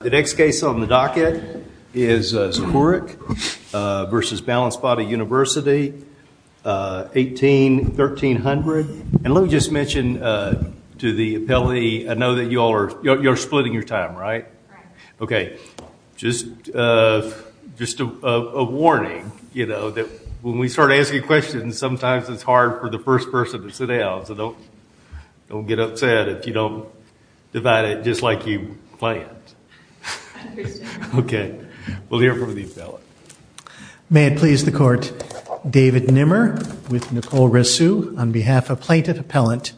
The next case on the docket is Zahourek v. Balanced Body University, 18-1300. And let me just mention to the appellee, I know that you all are, you're splitting your time, right? Okay, just a warning, you know, that when we start asking questions, sometimes it's hard for the first person to sit down. So don't get upset if you don't divide it just like you planned. Okay, we'll hear from the appellant. May it please the Court, David Nimmer with Nicole Rissou on behalf of Plaintiff Appellant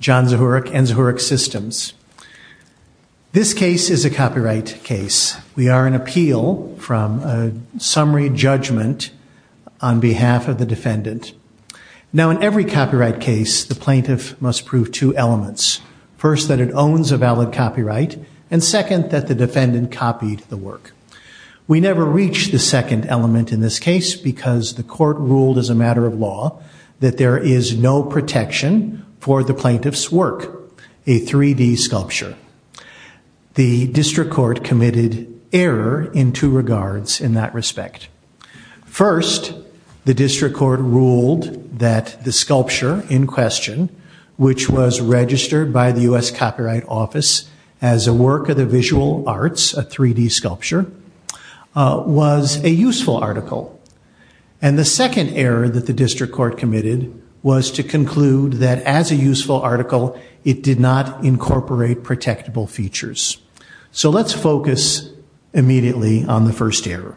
John Zahourek and Zahourek Systems. This case is a copyright case. We are in appeal from a summary judgment on behalf of the defendant. Now, in every copyright case, the plaintiff must prove two elements. First, that it owns a valid copyright, and second, that the defendant copied the work. We never reach the second element in this case because the court ruled as a matter of law that there is no protection for the plaintiff's work, a 3D sculpture. The district court committed error in two regards in that respect. First, the district court ruled that the sculpture in question, which was registered by the U.S. Copyright Office as a work of the visual arts, a 3D sculpture, was a useful article. And the second error that the district court committed was to conclude that as a useful article, it did not incorporate protectable features. So let's focus immediately on the first error.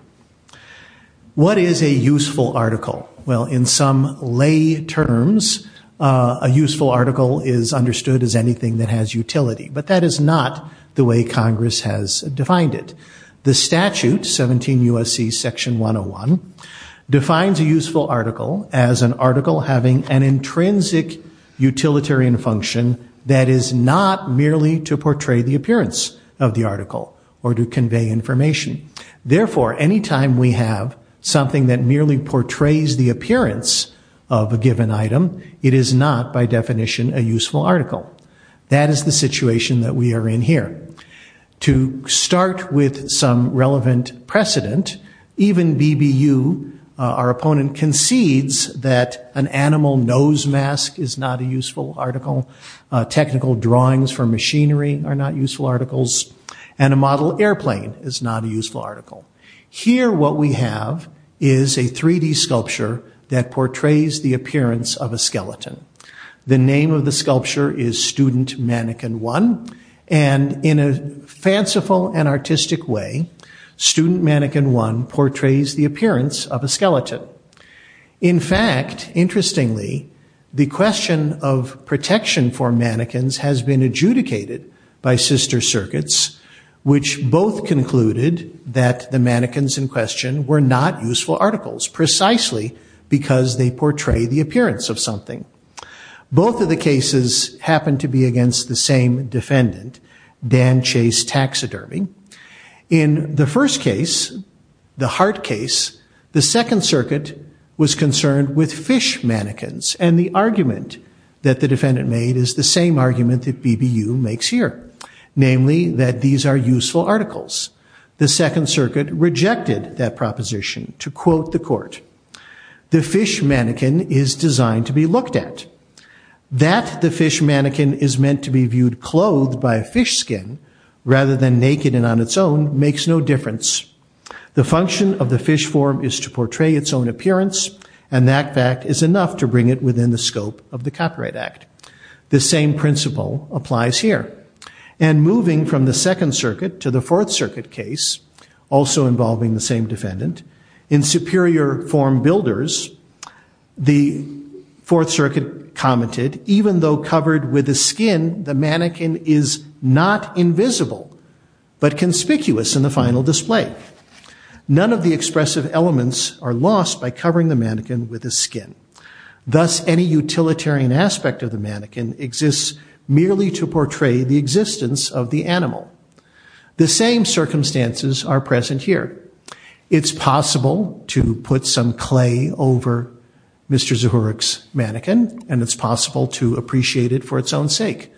What is a useful article? Well, in some lay terms, a useful article is understood as anything that has utility, but that is not the way Congress has defined it. The statute, 17 U.S.C. Section 101, defines a useful article as an article having an intrinsic utilitarian function that is not merely to portray the appearance of the article or to convey information. Therefore, any time we have something that merely portrays the appearance of a given item, it is not, by definition, a useful article. That is the situation that we are in here. To start with some relevant precedent, even BBU, our opponent, concedes that an animal nose mask is not a useful article, technical drawings for machinery are not useful articles, and a model airplane is not a useful article. Here, what we have is a 3D sculpture that portrays the appearance of a skeleton. The name of the sculpture is Student Mannequin 1, and in a fanciful and artistic way, Student Mannequin 1 portrays the appearance of a skeleton. In fact, interestingly, the question of protection for mannequins has been adjudicated by sister circuits, which both concluded that the mannequins in question were not useful articles, precisely because they portray the appearance of something. Both of the cases happen to be against the same defendant, Dan Chase Taxidermy. In the first case, the heart case, the second circuit was concerned with fish mannequins, and the argument that the defendant made is the same argument that BBU makes here, namely that these are useful articles. The second circuit rejected that proposition. To quote the court, the fish mannequin is designed to be looked at. That the fish mannequin is meant to be viewed clothed by a fish skin rather than naked and on its own makes no difference. The function of the fish form is to portray its own appearance, and that fact is enough to bring it within the scope of the Copyright Act. The same principle applies here. And moving from the second circuit to the fourth circuit case, also involving the same defendant, in superior form builders, the fourth circuit commented, even though covered with the skin, the mannequin is not invisible, but conspicuous in the final display. None of the expressive elements are lost by covering the mannequin with the skin. Thus, any utilitarian aspect of the mannequin exists merely to portray the existence of the animal. The same circumstances are present here. It's possible to put some clay over Mr. Zurich's mannequin, and it's possible to appreciate it for its own sake.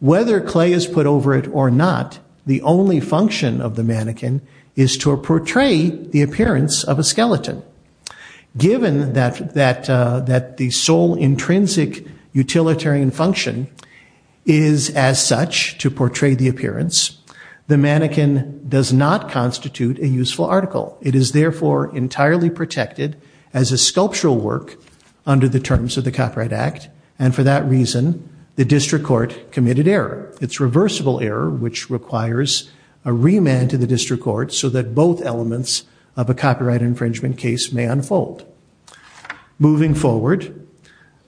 Whether clay is put over it or not, the only function of the mannequin is to portray the appearance of a skeleton. Given that the sole intrinsic utilitarian function is as such to portray the appearance, the mannequin does not constitute a useful article. It is therefore entirely protected as a sculptural work under the terms of the Copyright Act, and for that reason, the district court committed error. It's reversible error, which requires a remand to the district court so that both elements of a copyright infringement case may unfold. Moving forward,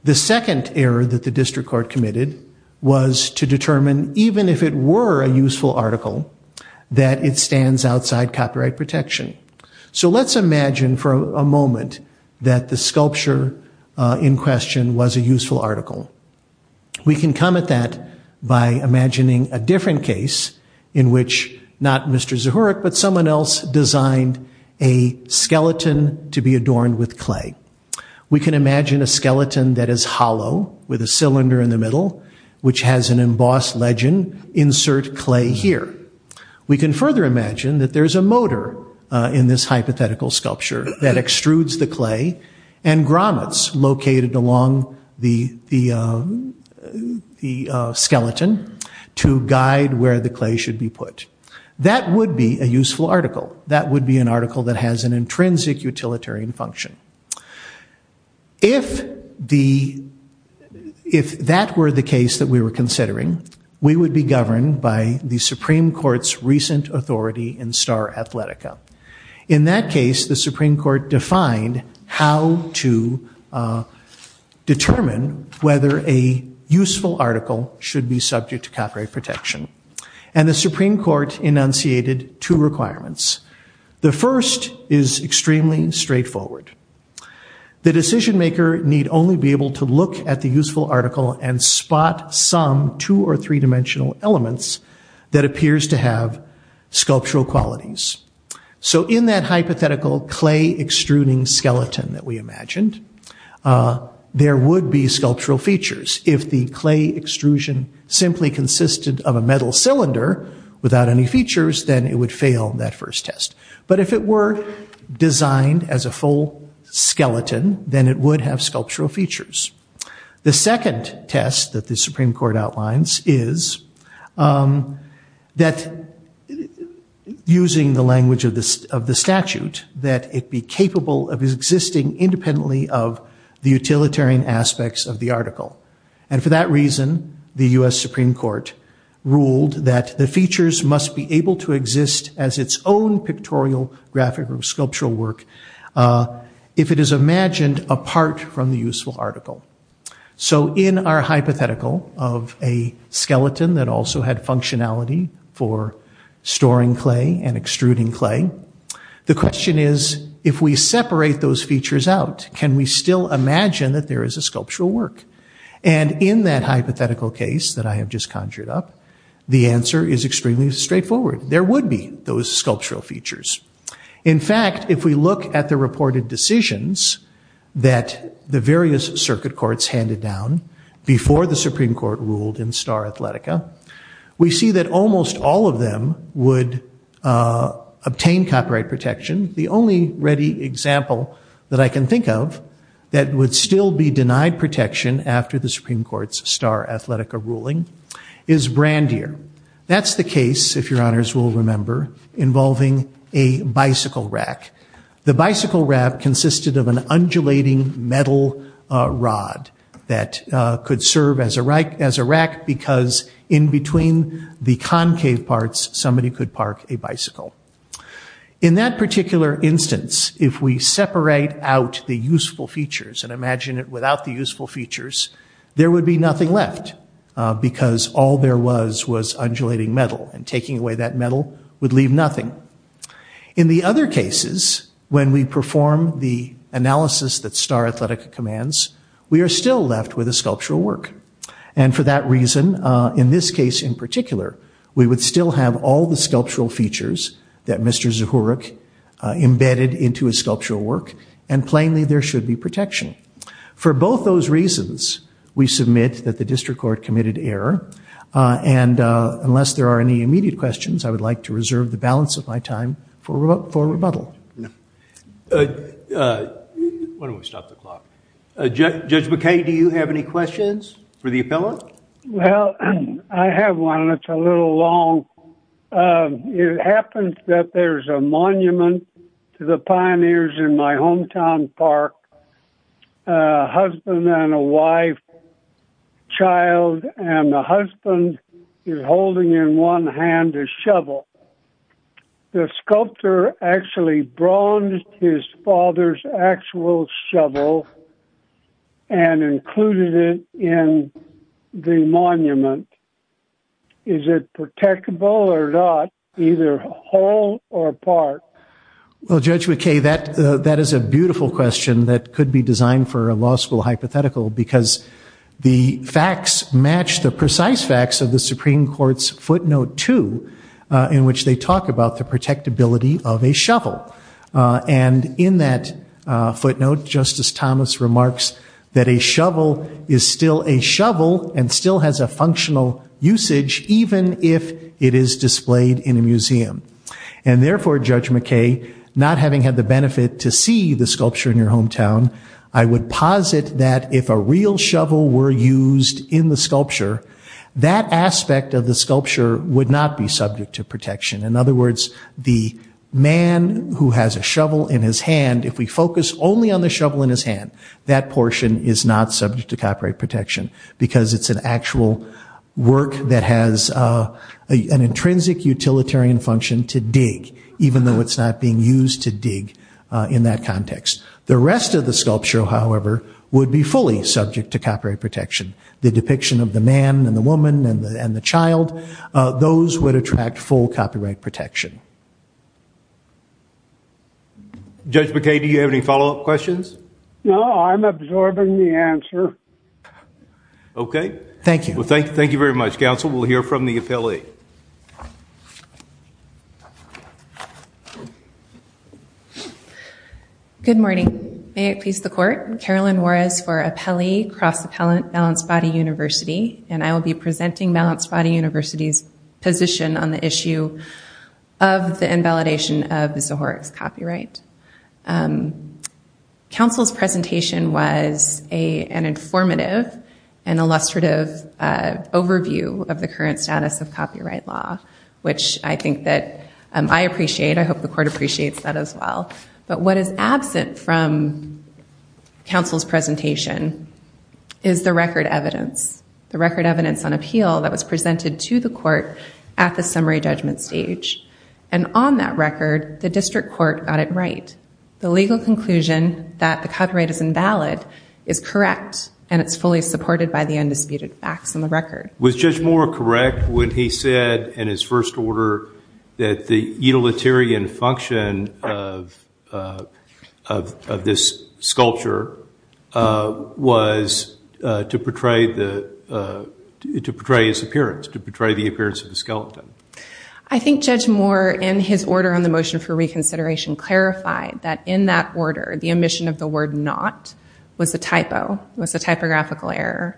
the second error that the district court committed was to determine, even if it were a useful article, that it stands outside copyright protection. So let's imagine for a moment that the sculpture in question was a useful article. We can come at that by imagining a different case in which not Mr. Zurich, but someone else designed a skeleton to be adorned with clay. We can imagine a skeleton that is hollow with a cylinder in the middle, which has an embossed legend, insert clay here. We can further imagine that there's a motor in this hypothetical sculpture that extrudes the clay and grommets located along the skeleton to guide where the clay should be put. That would be a useful article. That would be an article that has an intrinsic utilitarian function. If that were the case that we were considering, we would be governed by the Supreme Court's recent authority in Star Athletica. In that case, the Supreme Court defined how to determine whether a useful article should be subject to copyright protection, and the Supreme Court enunciated two requirements. The first is extremely straightforward. The decision maker need only be able to look at the useful article and spot some two or three dimensional elements that appears to have sculptural qualities. In that hypothetical clay extruding skeleton that we imagined, there would be sculptural features. If the clay extrusion simply consisted of a metal cylinder without any features, then it would fail that first test. But if it were designed as a full skeleton, then it would have sculptural features. The second test that the Supreme Court outlines is that, using the language of the statute, that it be capable of existing independently of the utilitarian aspects of the article. For that reason, the U.S. Supreme Court ruled that the features must be able to exist as its own pictorial, graphic, or sculptural work if it is imagined apart from the useful article. In our hypothetical of a skeleton that also had functionality for storing clay and extruding clay, the question is, if we separate those features out, can we still imagine that there is a sculptural work? And in that hypothetical case that I have just conjured up, the answer is extremely straightforward. There would be those sculptural features. In fact, if we look at the reported decisions that the various circuit courts handed down before the Supreme Court ruled in Star Athletica, we see that almost all of them would obtain copyright protection. The only ready example that I can think of that would still be denied protection after the Supreme Court's Star Athletica ruling is Brandeer. That's the case, if your honors will remember, involving a bicycle rack. The bicycle rack consisted of an undulating metal rod that could serve as a rack because in between the concave parts, somebody could park a bicycle. In that particular instance, if we separate out the useful features and imagine it without the useful features, there would be nothing left because all there was was undulating metal, and taking away that metal would leave nothing. In the other cases, when we perform the analysis that Star Athletica commands, we are still left with a sculptural work. And for that reason, in this case in particular, we would still have all the sculptural features that Mr. Zuchoruk embedded into his sculptural work, and plainly there should be protection. For both those reasons, we submit that the district court committed error, and unless there are any immediate questions, I would like to reserve the balance of my time for rebuttal. Judge McKay, do you have any questions for the appellant? Well, I have one. It's a little long. It happens that there's a monument to the pioneers in my hometown park, a husband and a wife, child, and the husband is holding in one hand a shovel. The sculptor actually bronzed his father's actual shovel and included it in the monument. Is it protectable or not, either whole or part? Well, Judge McKay, that is a beautiful question that could be designed for a law school hypothetical, because the facts match the precise facts of the Supreme Court's footnote 2, in which they talk about the protectability of a shovel. And in that footnote, Justice Thomas remarks that a shovel is still a shovel and still has a functional usage, even if it is displayed in a museum. And therefore, Judge McKay, not having had the benefit to see the sculpture in your hometown, I would posit that if a real shovel were used in the sculpture, that aspect of the sculpture would not be subject to protection. In other words, the man who has a shovel in his hand, if we focus only on the shovel in his hand, that portion is not subject to copyright protection, because it's an actual work that has an intrinsic utilitarian function to dig, even though it's not being used to dig in that context. The rest of the sculpture, however, would be fully subject to copyright protection. The depiction of the man and the woman and the child, those would attract full copyright protection. Judge McKay, do you have any follow-up questions? No, I'm absorbing the answer. Okay. Thank you. Well, thank you very much, counsel. We'll hear from the appellee. Thank you. Good morning. May it please the court. Carolyn Juarez for Appellee, Cross Appellant, Balanced Body University, and I will be presenting Balanced Body University's position on the issue of the invalidation of the Zoharic's copyright. Counsel's presentation was an informative and illustrative overview of the current status of copyright law, which I think that I appreciate. I hope the court appreciates that as well. But what is absent from counsel's presentation is the record evidence, the record evidence on appeal that was presented to the court at the summary judgment stage. And on that record, the district court got it right. The legal conclusion that the copyright is invalid is correct, and it's fully supported by the undisputed facts in the record. Was Judge Moore correct when he said in his first order that the utilitarian function of this sculpture was to portray his appearance, to portray the appearance of the skeleton? I think Judge Moore, in his order on the motion for reconsideration, clarified that in that order, the omission of the word not was a typo, was a typographical error.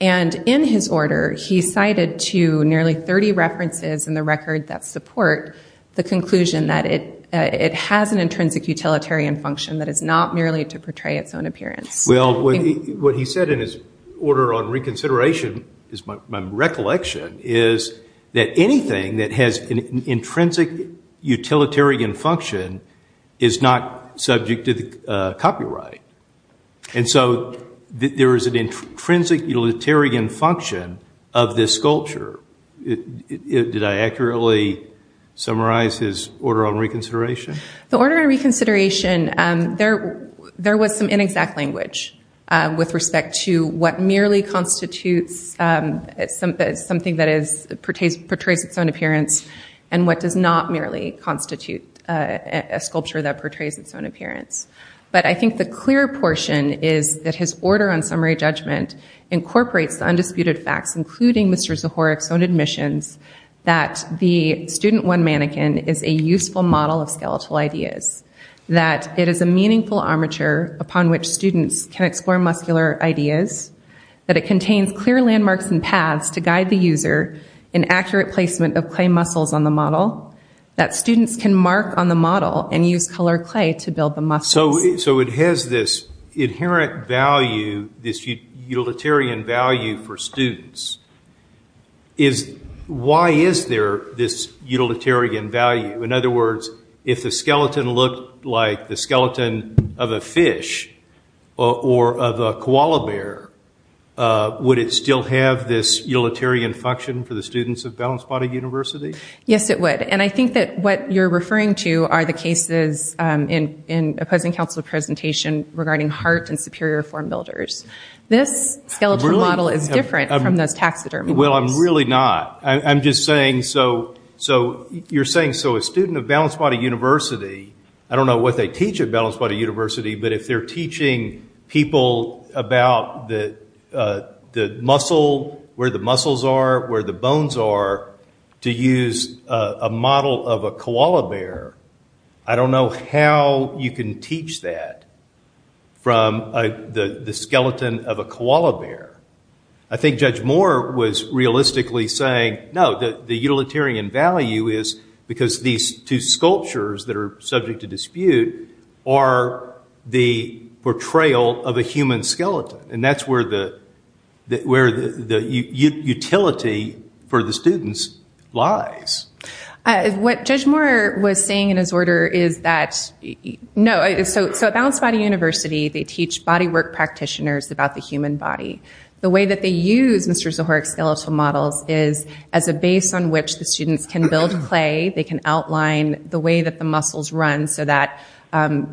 And in his order, he cited to nearly 30 references in the record that support the conclusion that it has an intrinsic utilitarian function that is not merely to portray its own appearance. Well, what he said in his order on reconsideration is my recollection, is that anything that has an intrinsic utilitarian function is not subject to the copyright. And so there is an intrinsic utilitarian function of this sculpture. Did I accurately summarize his order on reconsideration? The order on reconsideration, there was some inexact language with respect to what merely constitutes something that portrays its own appearance and what does not merely constitute a sculpture that portrays its own appearance. But I think the clear portion is that his order on summary judgment incorporates the undisputed facts, including Mr. Zahorek's own admissions, that the student one mannequin is a useful model of skeletal ideas, that it is a meaningful armature upon which students can explore muscular ideas, that it contains clear landmarks and paths to guide the user in accurate placement of clay muscles on the model, that students can mark on the model and use colored clay to build the muscles. So it has this inherent value, this utilitarian value for students. Why is there this utilitarian value? In other words, if the skeleton looked like the skeleton of a fish or of a koala bear, would it still have this utilitarian function for the students of Balanced Body University? Yes, it would. And I think that what you're referring to are the cases in a present council presentation regarding heart and superior form builders. This skeletal model is different from those taxidermy ones. Well, I'm really not. I'm just saying so you're saying so a student of Balanced Body University, I don't know what they teach at Balanced Body University, but if they're teaching people about the muscle, where the muscles are, where the bones are, to use a model of a koala bear, I don't know how you can teach that from the skeleton of a koala bear. I think Judge Moore was realistically saying, no, the utilitarian value is because these two sculptures that are subject to dispute are the portrayal of a human skeleton. And that's where the utility for the students lies. What Judge Moore was saying in his order is that, no, so at Balanced Body University, they teach bodywork practitioners about the human body. The way that they use Mr. Zohoric's skeletal models is as a base on which the students can build clay. They can outline the way that the muscles run so that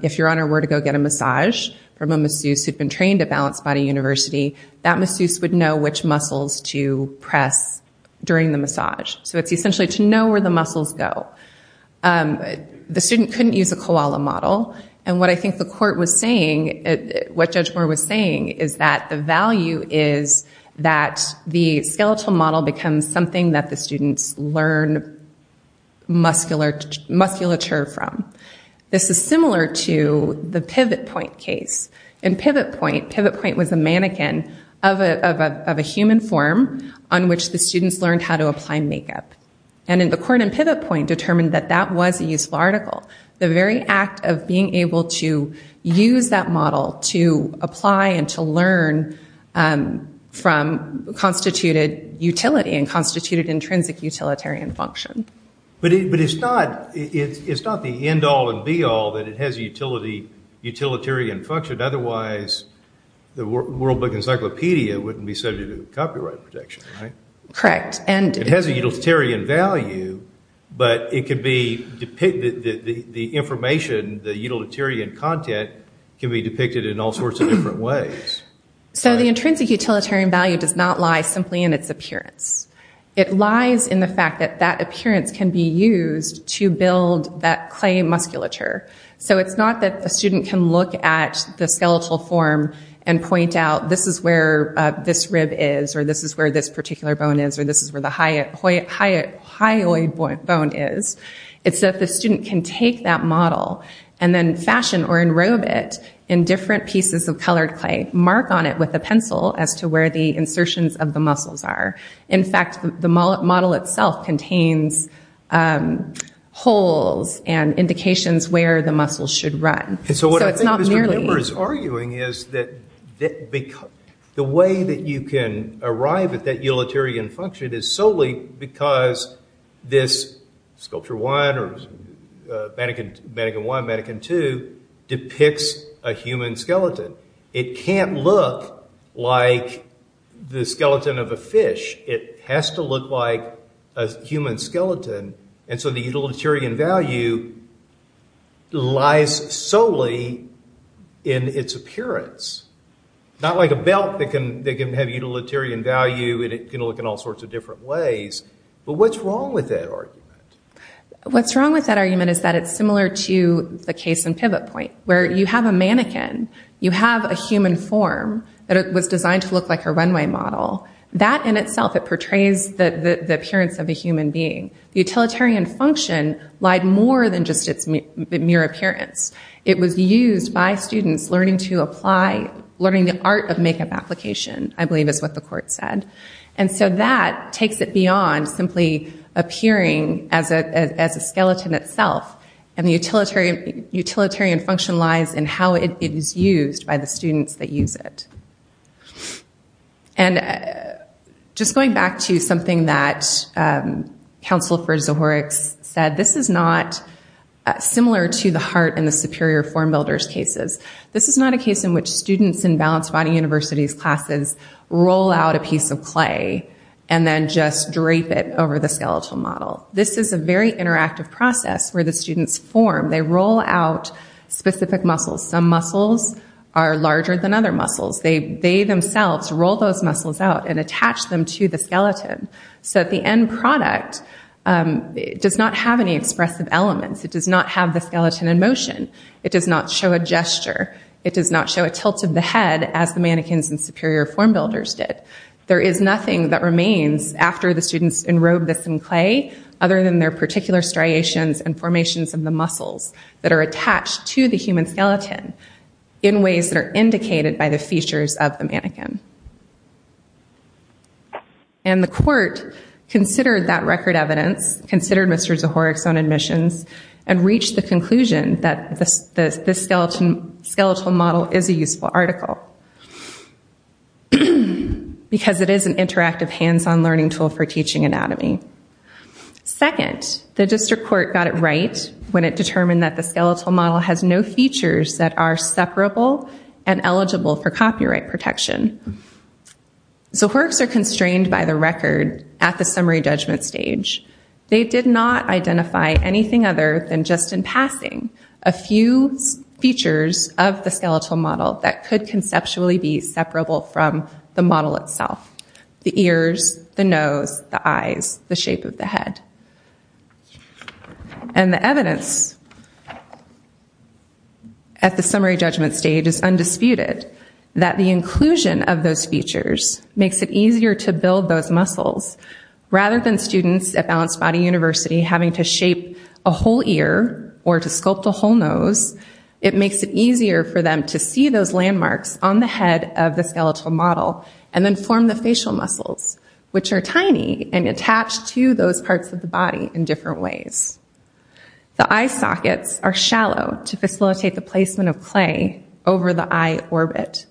if your owner were to go get a massage from a masseuse who'd been trained at Balanced Body University, that masseuse would know which muscles to press during the massage. So it's essentially to know where the muscles go. The student couldn't use a koala model. And what I think the court was saying, what Judge Moore was saying, is that the value is that the skeletal model becomes something that the students learn musculature from. This is similar to the pivot point case. In pivot point, pivot point was a mannequin of a human form on which the students learned how to apply makeup. And the court in pivot point determined that that was a useful article. The very act of being able to use that model to apply and to learn from constituted utility and constituted intrinsic utilitarian function. But it's not the end all and be all that it has utilitarian function. Otherwise, the World Book Encyclopedia wouldn't be subject to copyright protection, right? Correct. It has a utilitarian value, but the information, the utilitarian content, can be depicted in all sorts of different ways. So the intrinsic utilitarian value does not lie simply in its appearance. It lies in the fact that that appearance can be used to build that clay musculature. So it's not that a student can look at the skeletal form and point out, this is where this rib is, or this is where this particular bone is, or this is where the hyoid bone is. It's that the student can take that model and then fashion or enrobe it in different pieces of colored clay, mark on it with a pencil as to where the insertions of the muscles are. In fact, the model itself contains holes and indications where the muscles should run. So what I think Mr. Kimber is arguing is that the way that you can arrive at that utilitarian function is solely because this Sculpture 1 or Mannequin 1, Mannequin 2 depicts a human skeleton. It can't look like the skeleton of a fish. It has to look like a human skeleton. And so the utilitarian value lies solely in its appearance, not like a belt that can have utilitarian value and it can look in all sorts of different ways. But what's wrong with that argument? What's wrong with that argument is that it's similar to the case in Pivot Point, where you have a mannequin, you have a human form that was designed to look like a runway model. That in itself, it portrays the appearance of a human being. The utilitarian function lied more than just its mere appearance. It was used by students learning the art of makeup application, I believe is what the court said. And so that takes it beyond simply appearing as a skeleton itself. And the utilitarian function lies in how it is used by the students that use it. And just going back to something that Counsel for Zohorek said, this is not similar to the heart in the superior form builder's cases. This is not a case in which students in Balanced Body University's classes roll out a piece of clay and then just drape it over the skeletal model. This is a very interactive process where the students form. They roll out specific muscles. Some muscles are larger than other muscles. They themselves roll those muscles out and attach them to the skeleton. So the end product does not have any expressive elements. It does not have the skeleton in motion. It does not show a gesture. It does not show a tilt of the head as the mannequins in superior form builders did. There is nothing that remains after the students enrobed this in clay other than their particular striations and formations of the muscles that are attached to the human skeleton in ways that are indicated by the features of the mannequin. And the court considered that record evidence, considered Mr. Zohorek's own admissions, and reached the conclusion that this skeletal model is a useful article because it is an interactive hands-on learning tool for teaching anatomy. Second, the district court got it right when it determined that the skeletal model has no features that are separable and eligible for copyright protection. Zohorek's are constrained by the record at the summary judgment stage. They did not identify anything other than just in passing a few features of the skeletal model that could conceptually be separable from the model itself. The ears, the nose, the eyes, the shape of the head. And the evidence at the summary judgment stage is undisputed that the inclusion of those features makes it easier to build those muscles. Rather than students at Balanced Body University having to shape a whole ear or to sculpt a whole nose, it makes it easier for them to see those landmarks on the head of the skeletal model and then form the facial muscles, which are tiny and attached to those parts of the body in different ways. The eye sockets are shallow to facilitate the placement of clay over the eye orbit.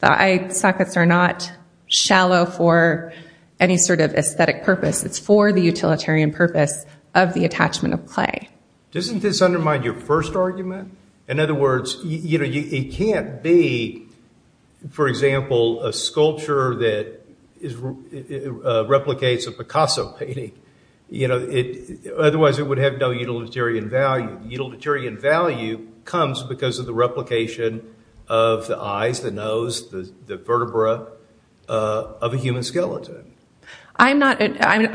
The eye sockets are not shallow for any sort of aesthetic purpose. It's for the utilitarian purpose of the attachment of clay. Doesn't this undermine your first argument? In other words, it can't be, for example, a sculpture that replicates a Picasso painting. Otherwise it would have no utilitarian value. Utilitarian value comes because of the replication of the eyes, the nose, the vertebra of a human skeleton. I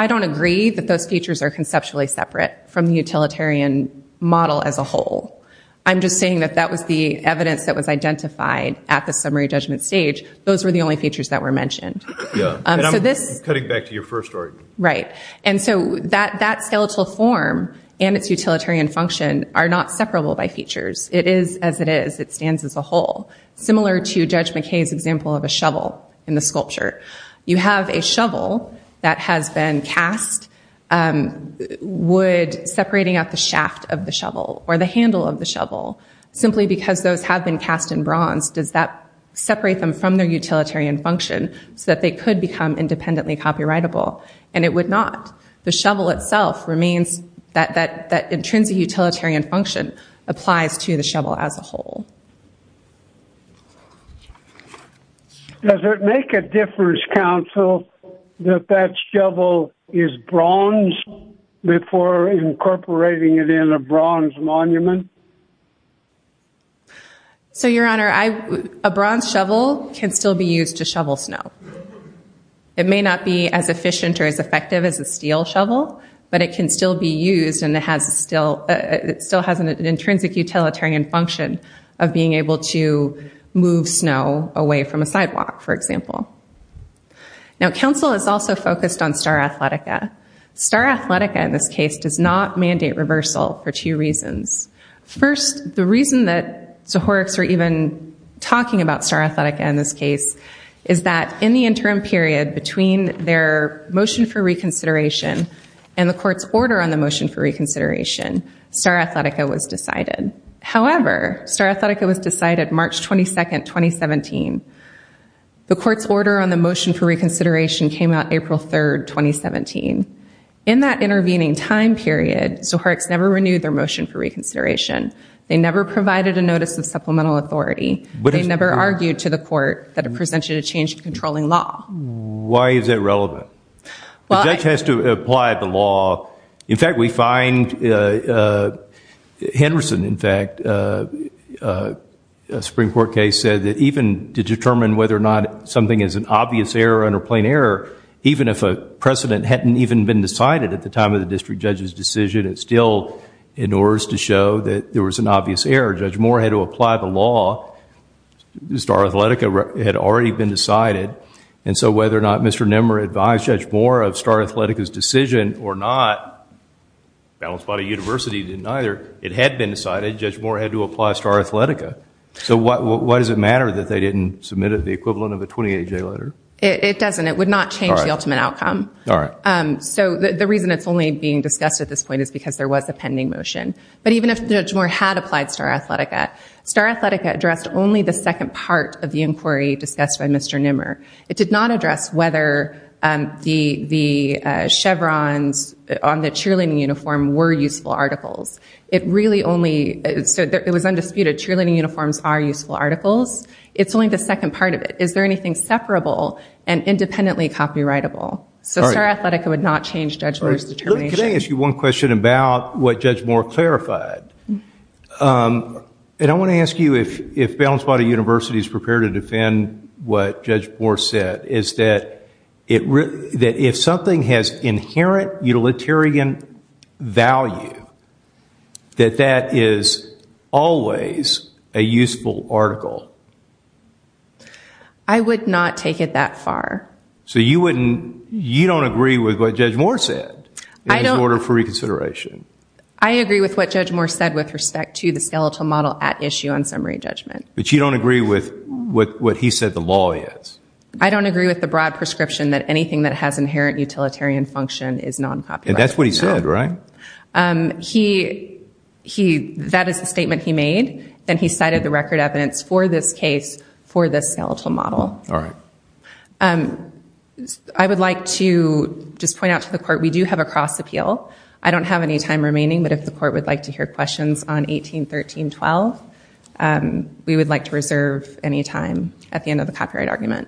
don't agree that those features are conceptually separate from the utilitarian model as a whole. I'm just saying that that was the evidence that was identified at the summary judgment stage. Those were the only features that were mentioned. And I'm cutting back to your first argument. Right. And so that skeletal form and its utilitarian function are not separable by features. It is as it is. It stands as a whole. Similar to Judge McKay's example of a shovel in the sculpture. You have a shovel that has been cast separating out the shaft of the shovel or the handle of the shovel. Simply because those have been cast in bronze, does that separate them from their utilitarian function so that they could become independently copyrightable? And it would not. The shovel itself remains. That intrinsic utilitarian function applies to the shovel as a whole. Does it make a difference, counsel, that that shovel is bronze before incorporating it in a bronze monument? So, Your Honor, a bronze shovel can still be used to shovel snow. It may not be as efficient or as effective as a steel shovel, but it can still be used and it still has an intrinsic utilitarian function. And that's the benefit of being able to move snow away from a sidewalk, for example. Now, counsel is also focused on Star Athletica. Star Athletica, in this case, does not mandate reversal for two reasons. First, the reason that Zohorix were even talking about Star Athletica in this case is that in the interim period between their motion for reconsideration and the court's order on the motion for reconsideration, Star Athletica was decided. However, Star Athletica was decided March 22, 2017. The court's order on the motion for reconsideration came out April 3, 2017. In that intervening time period, Zohorix never renewed their motion for reconsideration. They never provided a notice of supplemental authority. They never argued to the court that it presented a change in controlling law. Why is that relevant? The judge has to apply the law. In fact, we find Henderson, in fact, a Supreme Court case said that even to determine whether or not something is an obvious error and a plain error, even if a precedent hadn't even been decided at the time of the district judge's decision, it's still in order to show that there was an obvious error. Judge Moore had to apply the law. Star Athletica had already been decided. And so whether or not Mr. Nimmer advised Judge Moore of Star Athletica's decision or not, Balanced Body University didn't either. It had been decided. Judge Moore had to apply Star Athletica. So why does it matter that they didn't submit the equivalent of a 28-J letter? It doesn't. It would not change the ultimate outcome. All right. So the reason it's only being discussed at this point is because there was a pending motion. But even if Judge Moore had applied Star Athletica, Star Athletica addressed only the second part of the inquiry discussed by Mr. Nimmer. It did not address whether the chevrons on the cheerleading uniform were useful articles. It really only—so it was undisputed. Cheerleading uniforms are useful articles. It's only the second part of it. Is there anything separable and independently copyrightable? So Star Athletica would not change Judge Moore's determination. Can I ask you one question about what Judge Moore clarified? And I want to ask you if Balanced Body University is prepared to defend what Judge Moore said, is that if something has inherent utilitarian value, that that is always a useful article. I would not take it that far. So you don't agree with what Judge Moore said? In his order for reconsideration. I agree with what Judge Moore said with respect to the skeletal model at issue on summary judgment. But you don't agree with what he said the law is? I don't agree with the broad prescription that anything that has inherent utilitarian function is non-copyrighted. And that's what he said, right? That is the statement he made. Then he cited the record evidence for this case for the skeletal model. All right. I would like to just point out to the court, we do have a cross appeal. I don't have any time remaining, but if the court would like to hear questions on 18-13-12, we would like to reserve any time at the end of the copyright argument.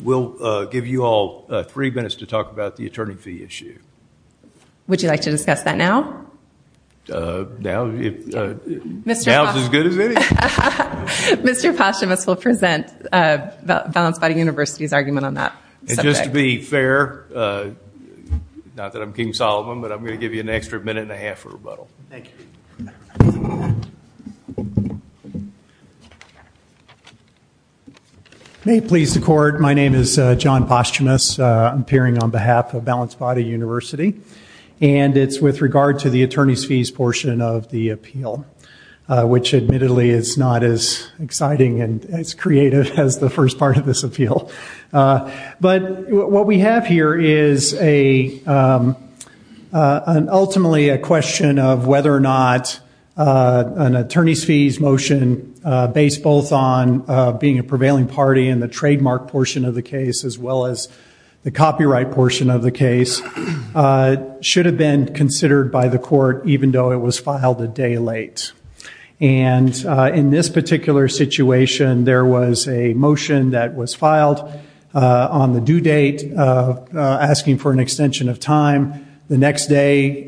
We'll give you all three minutes to talk about the attorney fee issue. Would you like to discuss that now? Now is as good as any. Mr. Posthumous will present Balanced Body University's argument on that. Just to be fair, not that I'm King Solomon, but I'm going to give you an extra minute and a half for rebuttal. Thank you. May it please the court, my name is John Posthumous. I'm appearing on behalf of Balanced Body University. It's with regard to the attorney's fees portion of the appeal, which admittedly is not as exciting and as creative as the first part of this appeal. What we have here is ultimately a question of whether or not an attorney's fees motion, based both on being a prevailing party in the trademark portion of the case, as well as the copyright portion of the case, should have been considered by the court even though it was filed a day late. In this particular situation, there was a motion that was filed on the due date, asking for an extension of time. The next day,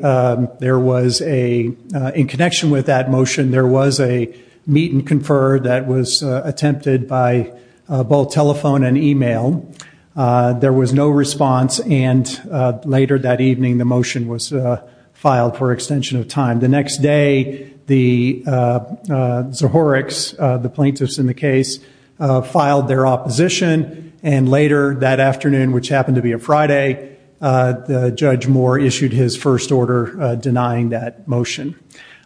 in connection with that motion, there was a meet and confer that was attempted by both telephone and e-mail. There was no response, and later that evening the motion was filed for extension of time. The next day, the Zohoreks, the plaintiffs in the case, filed their opposition, and later that afternoon, which happened to be a Friday, Judge Moore issued his first order denying that motion.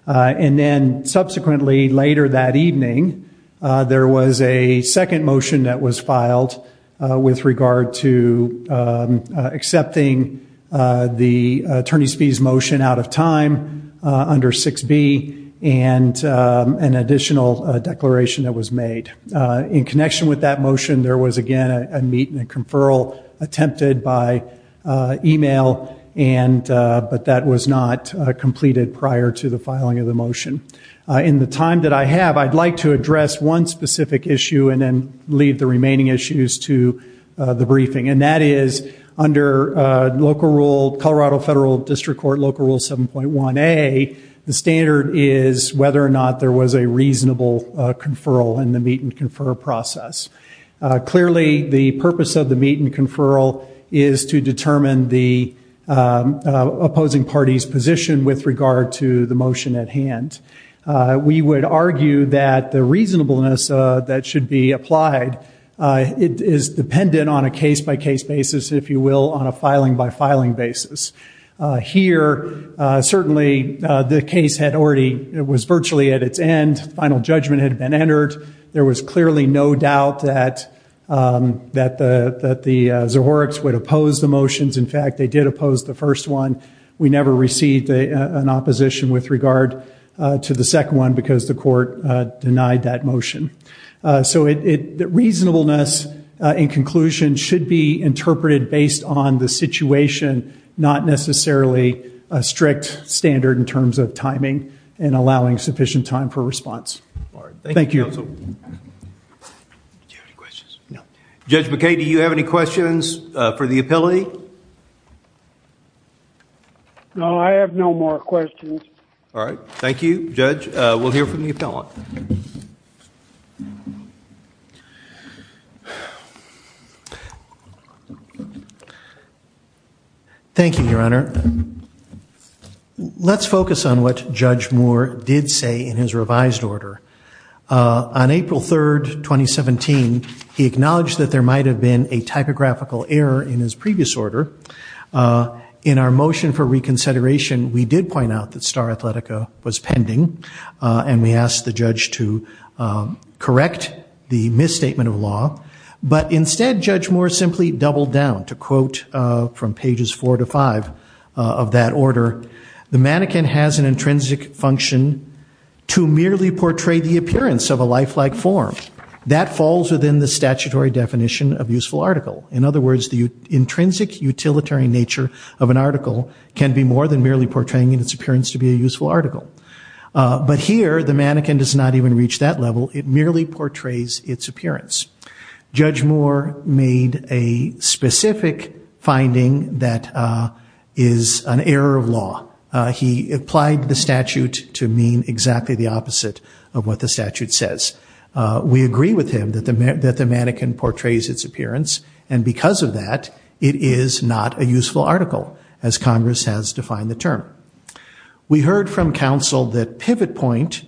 Subsequently, later that evening, there was a second motion that was filed with regard to accepting the attorney's fees motion out of time under 6B and an additional declaration that was made. In connection with that motion, there was again a meet and confer attempted by e-mail, but that was not completed prior to the filing of the motion. In the time that I have, I'd like to address one specific issue and then leave the remaining issues to the briefing, and that is under Colorado Federal District Court Local Rule 7.1a, the standard is whether or not there was a reasonable conferral in the meet and confer process. Clearly, the purpose of the meet and conferral is to determine the opposing party's position with regard to the motion at hand. We would argue that the reasonableness that should be applied is dependent on a case-by-case basis, if you will, on a filing-by-filing basis. Here, certainly, the case was virtually at its end. Final judgment had been entered. There was clearly no doubt that the Zohorix would oppose the motions. In fact, they did oppose the first one. We never received an opposition with regard to the second one because the court denied that motion. So reasonableness in conclusion should be interpreted based on the situation, not necessarily a strict standard in terms of timing and allowing sufficient time for response. Thank you. Do you have any questions? No. Judge McKay, do you have any questions for the appellate? No, I have no more questions. All right. Thank you, Judge. We'll hear from the appellant. Thank you, Your Honor. Let's focus on what Judge Moore did say in his revised order. On April 3, 2017, he acknowledged that there might have been a typographical error in his previous order. In our motion for reconsideration, we did point out that Star Athletica was pending, and we asked the judge to correct the misstatement of law. But instead, Judge Moore simply doubled down. To quote from pages four to five of that order, the mannequin has an intrinsic function to merely portray the appearance of a lifelike form. That falls within the statutory definition of useful article. In other words, the intrinsic utilitarian nature of an article can be more than merely portraying its appearance to be a useful article. But here, the mannequin does not even reach that level. It merely portrays its appearance. Judge Moore made a specific finding that is an error of law. He applied the statute to mean exactly the opposite of what the statute says. We agree with him that the mannequin portrays its appearance, and because of that, it is not a useful article, as Congress has defined the term. We heard from counsel that Pivot Point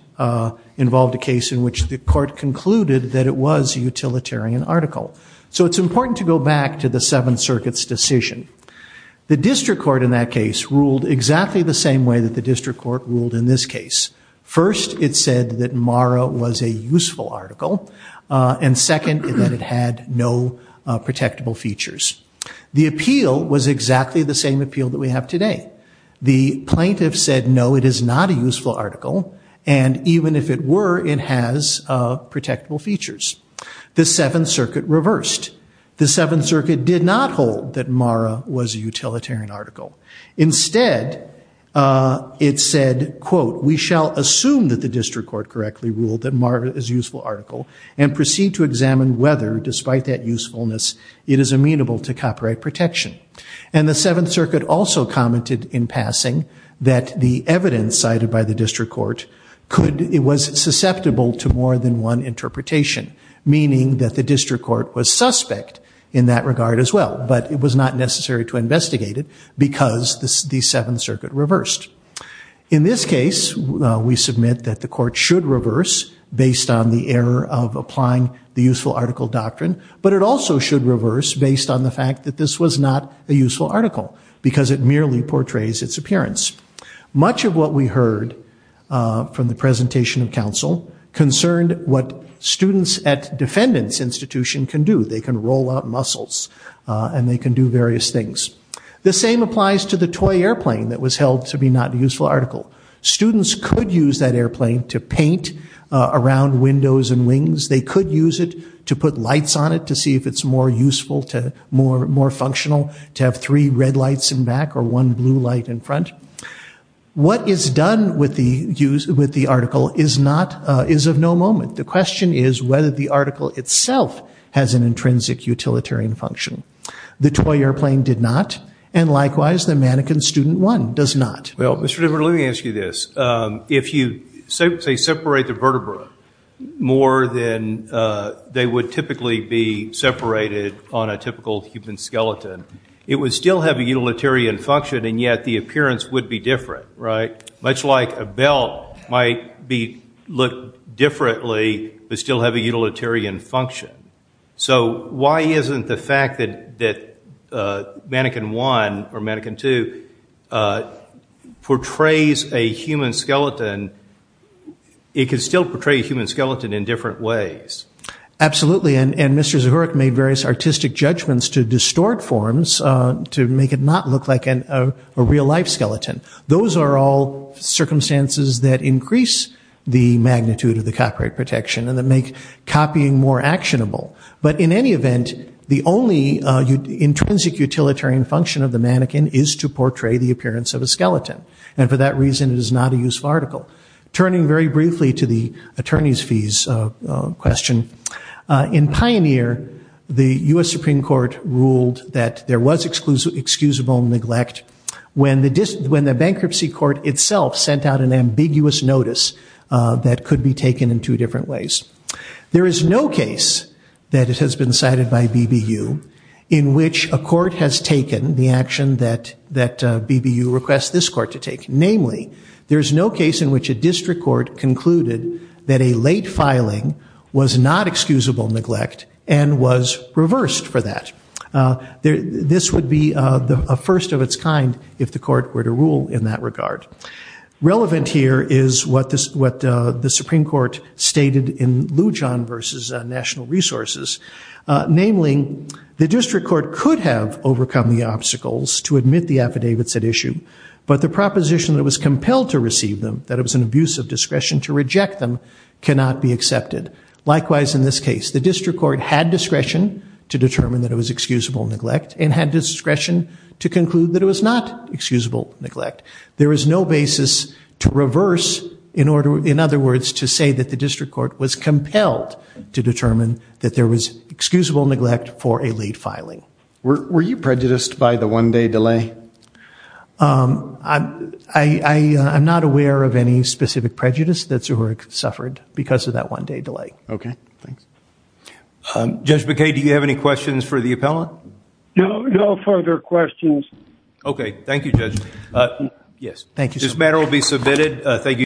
involved a case in which the court concluded that it was a utilitarian article. So it's important to go back to the Seventh Circuit's decision. The district court in that case ruled exactly the same way that the district court ruled in this case. First, it said that Mara was a useful article, and second, that it had no protectable features. The appeal was exactly the same appeal that we have today. The plaintiff said, no, it is not a useful article, and even if it were, it has protectable features. The Seventh Circuit reversed. The Seventh Circuit did not hold that Mara was a utilitarian article. Instead, it said, quote, we shall assume that the district court correctly ruled that Mara is a useful article, and proceed to examine whether, despite that usefulness, it is amenable to copyright protection. And the Seventh Circuit also commented in passing that the evidence cited by the district court was susceptible to more than one interpretation, meaning that the district court was suspect in that regard as well, but it was not necessary to investigate it because the Seventh Circuit reversed. In this case, we submit that the court should reverse based on the error of applying the useful article doctrine, but it also should reverse based on the fact that this was not a useful article because it merely portrays its appearance. Much of what we heard from the presentation of counsel concerned what students at defendants' institutions can do. They can roll out muscles, and they can do various things. The same applies to the toy airplane that was held to be not a useful article. Students could use that airplane to paint around windows and wings. They could use it to put lights on it to see if it's more useful, more functional, to have three red lights in back or one blue light in front. What is done with the article is of no moment. The question is whether the article itself has an intrinsic utilitarian function. The toy airplane did not, and likewise the mannequin student one does not. Well, Mr. Dipper, let me ask you this. If you, say, separate the vertebra more than they would typically be separated on a typical human skeleton, it would still have a utilitarian function, and yet the appearance would be different, right? Much like a belt might look differently but still have a utilitarian function. So why isn't the fact that mannequin one or mannequin two portrays a human skeleton, it could still portray a human skeleton in different ways? Absolutely, and Mr. Zahurik made various artistic judgments to distort forms, to make it not look like a real-life skeleton. Those are all circumstances that increase the magnitude of the copyright protection and that make copying more actionable. But in any event, the only intrinsic utilitarian function of the mannequin is to portray the appearance of a skeleton, and for that reason it is not a useful article. Turning very briefly to the attorney's fees question, in Pioneer the U.S. Supreme Court ruled that there was excusable neglect when the bankruptcy court itself sent out an ambiguous notice that could be taken in two different ways. There is no case that has been cited by BBU in which a court has taken the action that BBU requests this court to take. Namely, there is no case in which a district court concluded that a late filing was not excusable neglect and was reversed for that. This would be a first of its kind if the court were to rule in that regard. Relevant here is what the Supreme Court stated in Lujan v. National Resources. Namely, the district court could have overcome the obstacles to admit the affidavits at issue, but the proposition that it was compelled to receive them, that it was an abuse of discretion to reject them, cannot be accepted. Likewise in this case. The district court had discretion to determine that it was excusable neglect and had discretion to conclude that it was not excusable neglect. There is no basis to reverse, in other words, to say that the district court was compelled to determine that there was excusable neglect for a late filing. Were you prejudiced by the one-day delay? I'm not aware of any specific prejudice that Zuhurik suffered because of that one-day delay. Okay. Thanks. Judge McKay, do you have any questions for the appellant? No further questions. Okay. Thank you, Judge. This matter will be submitted.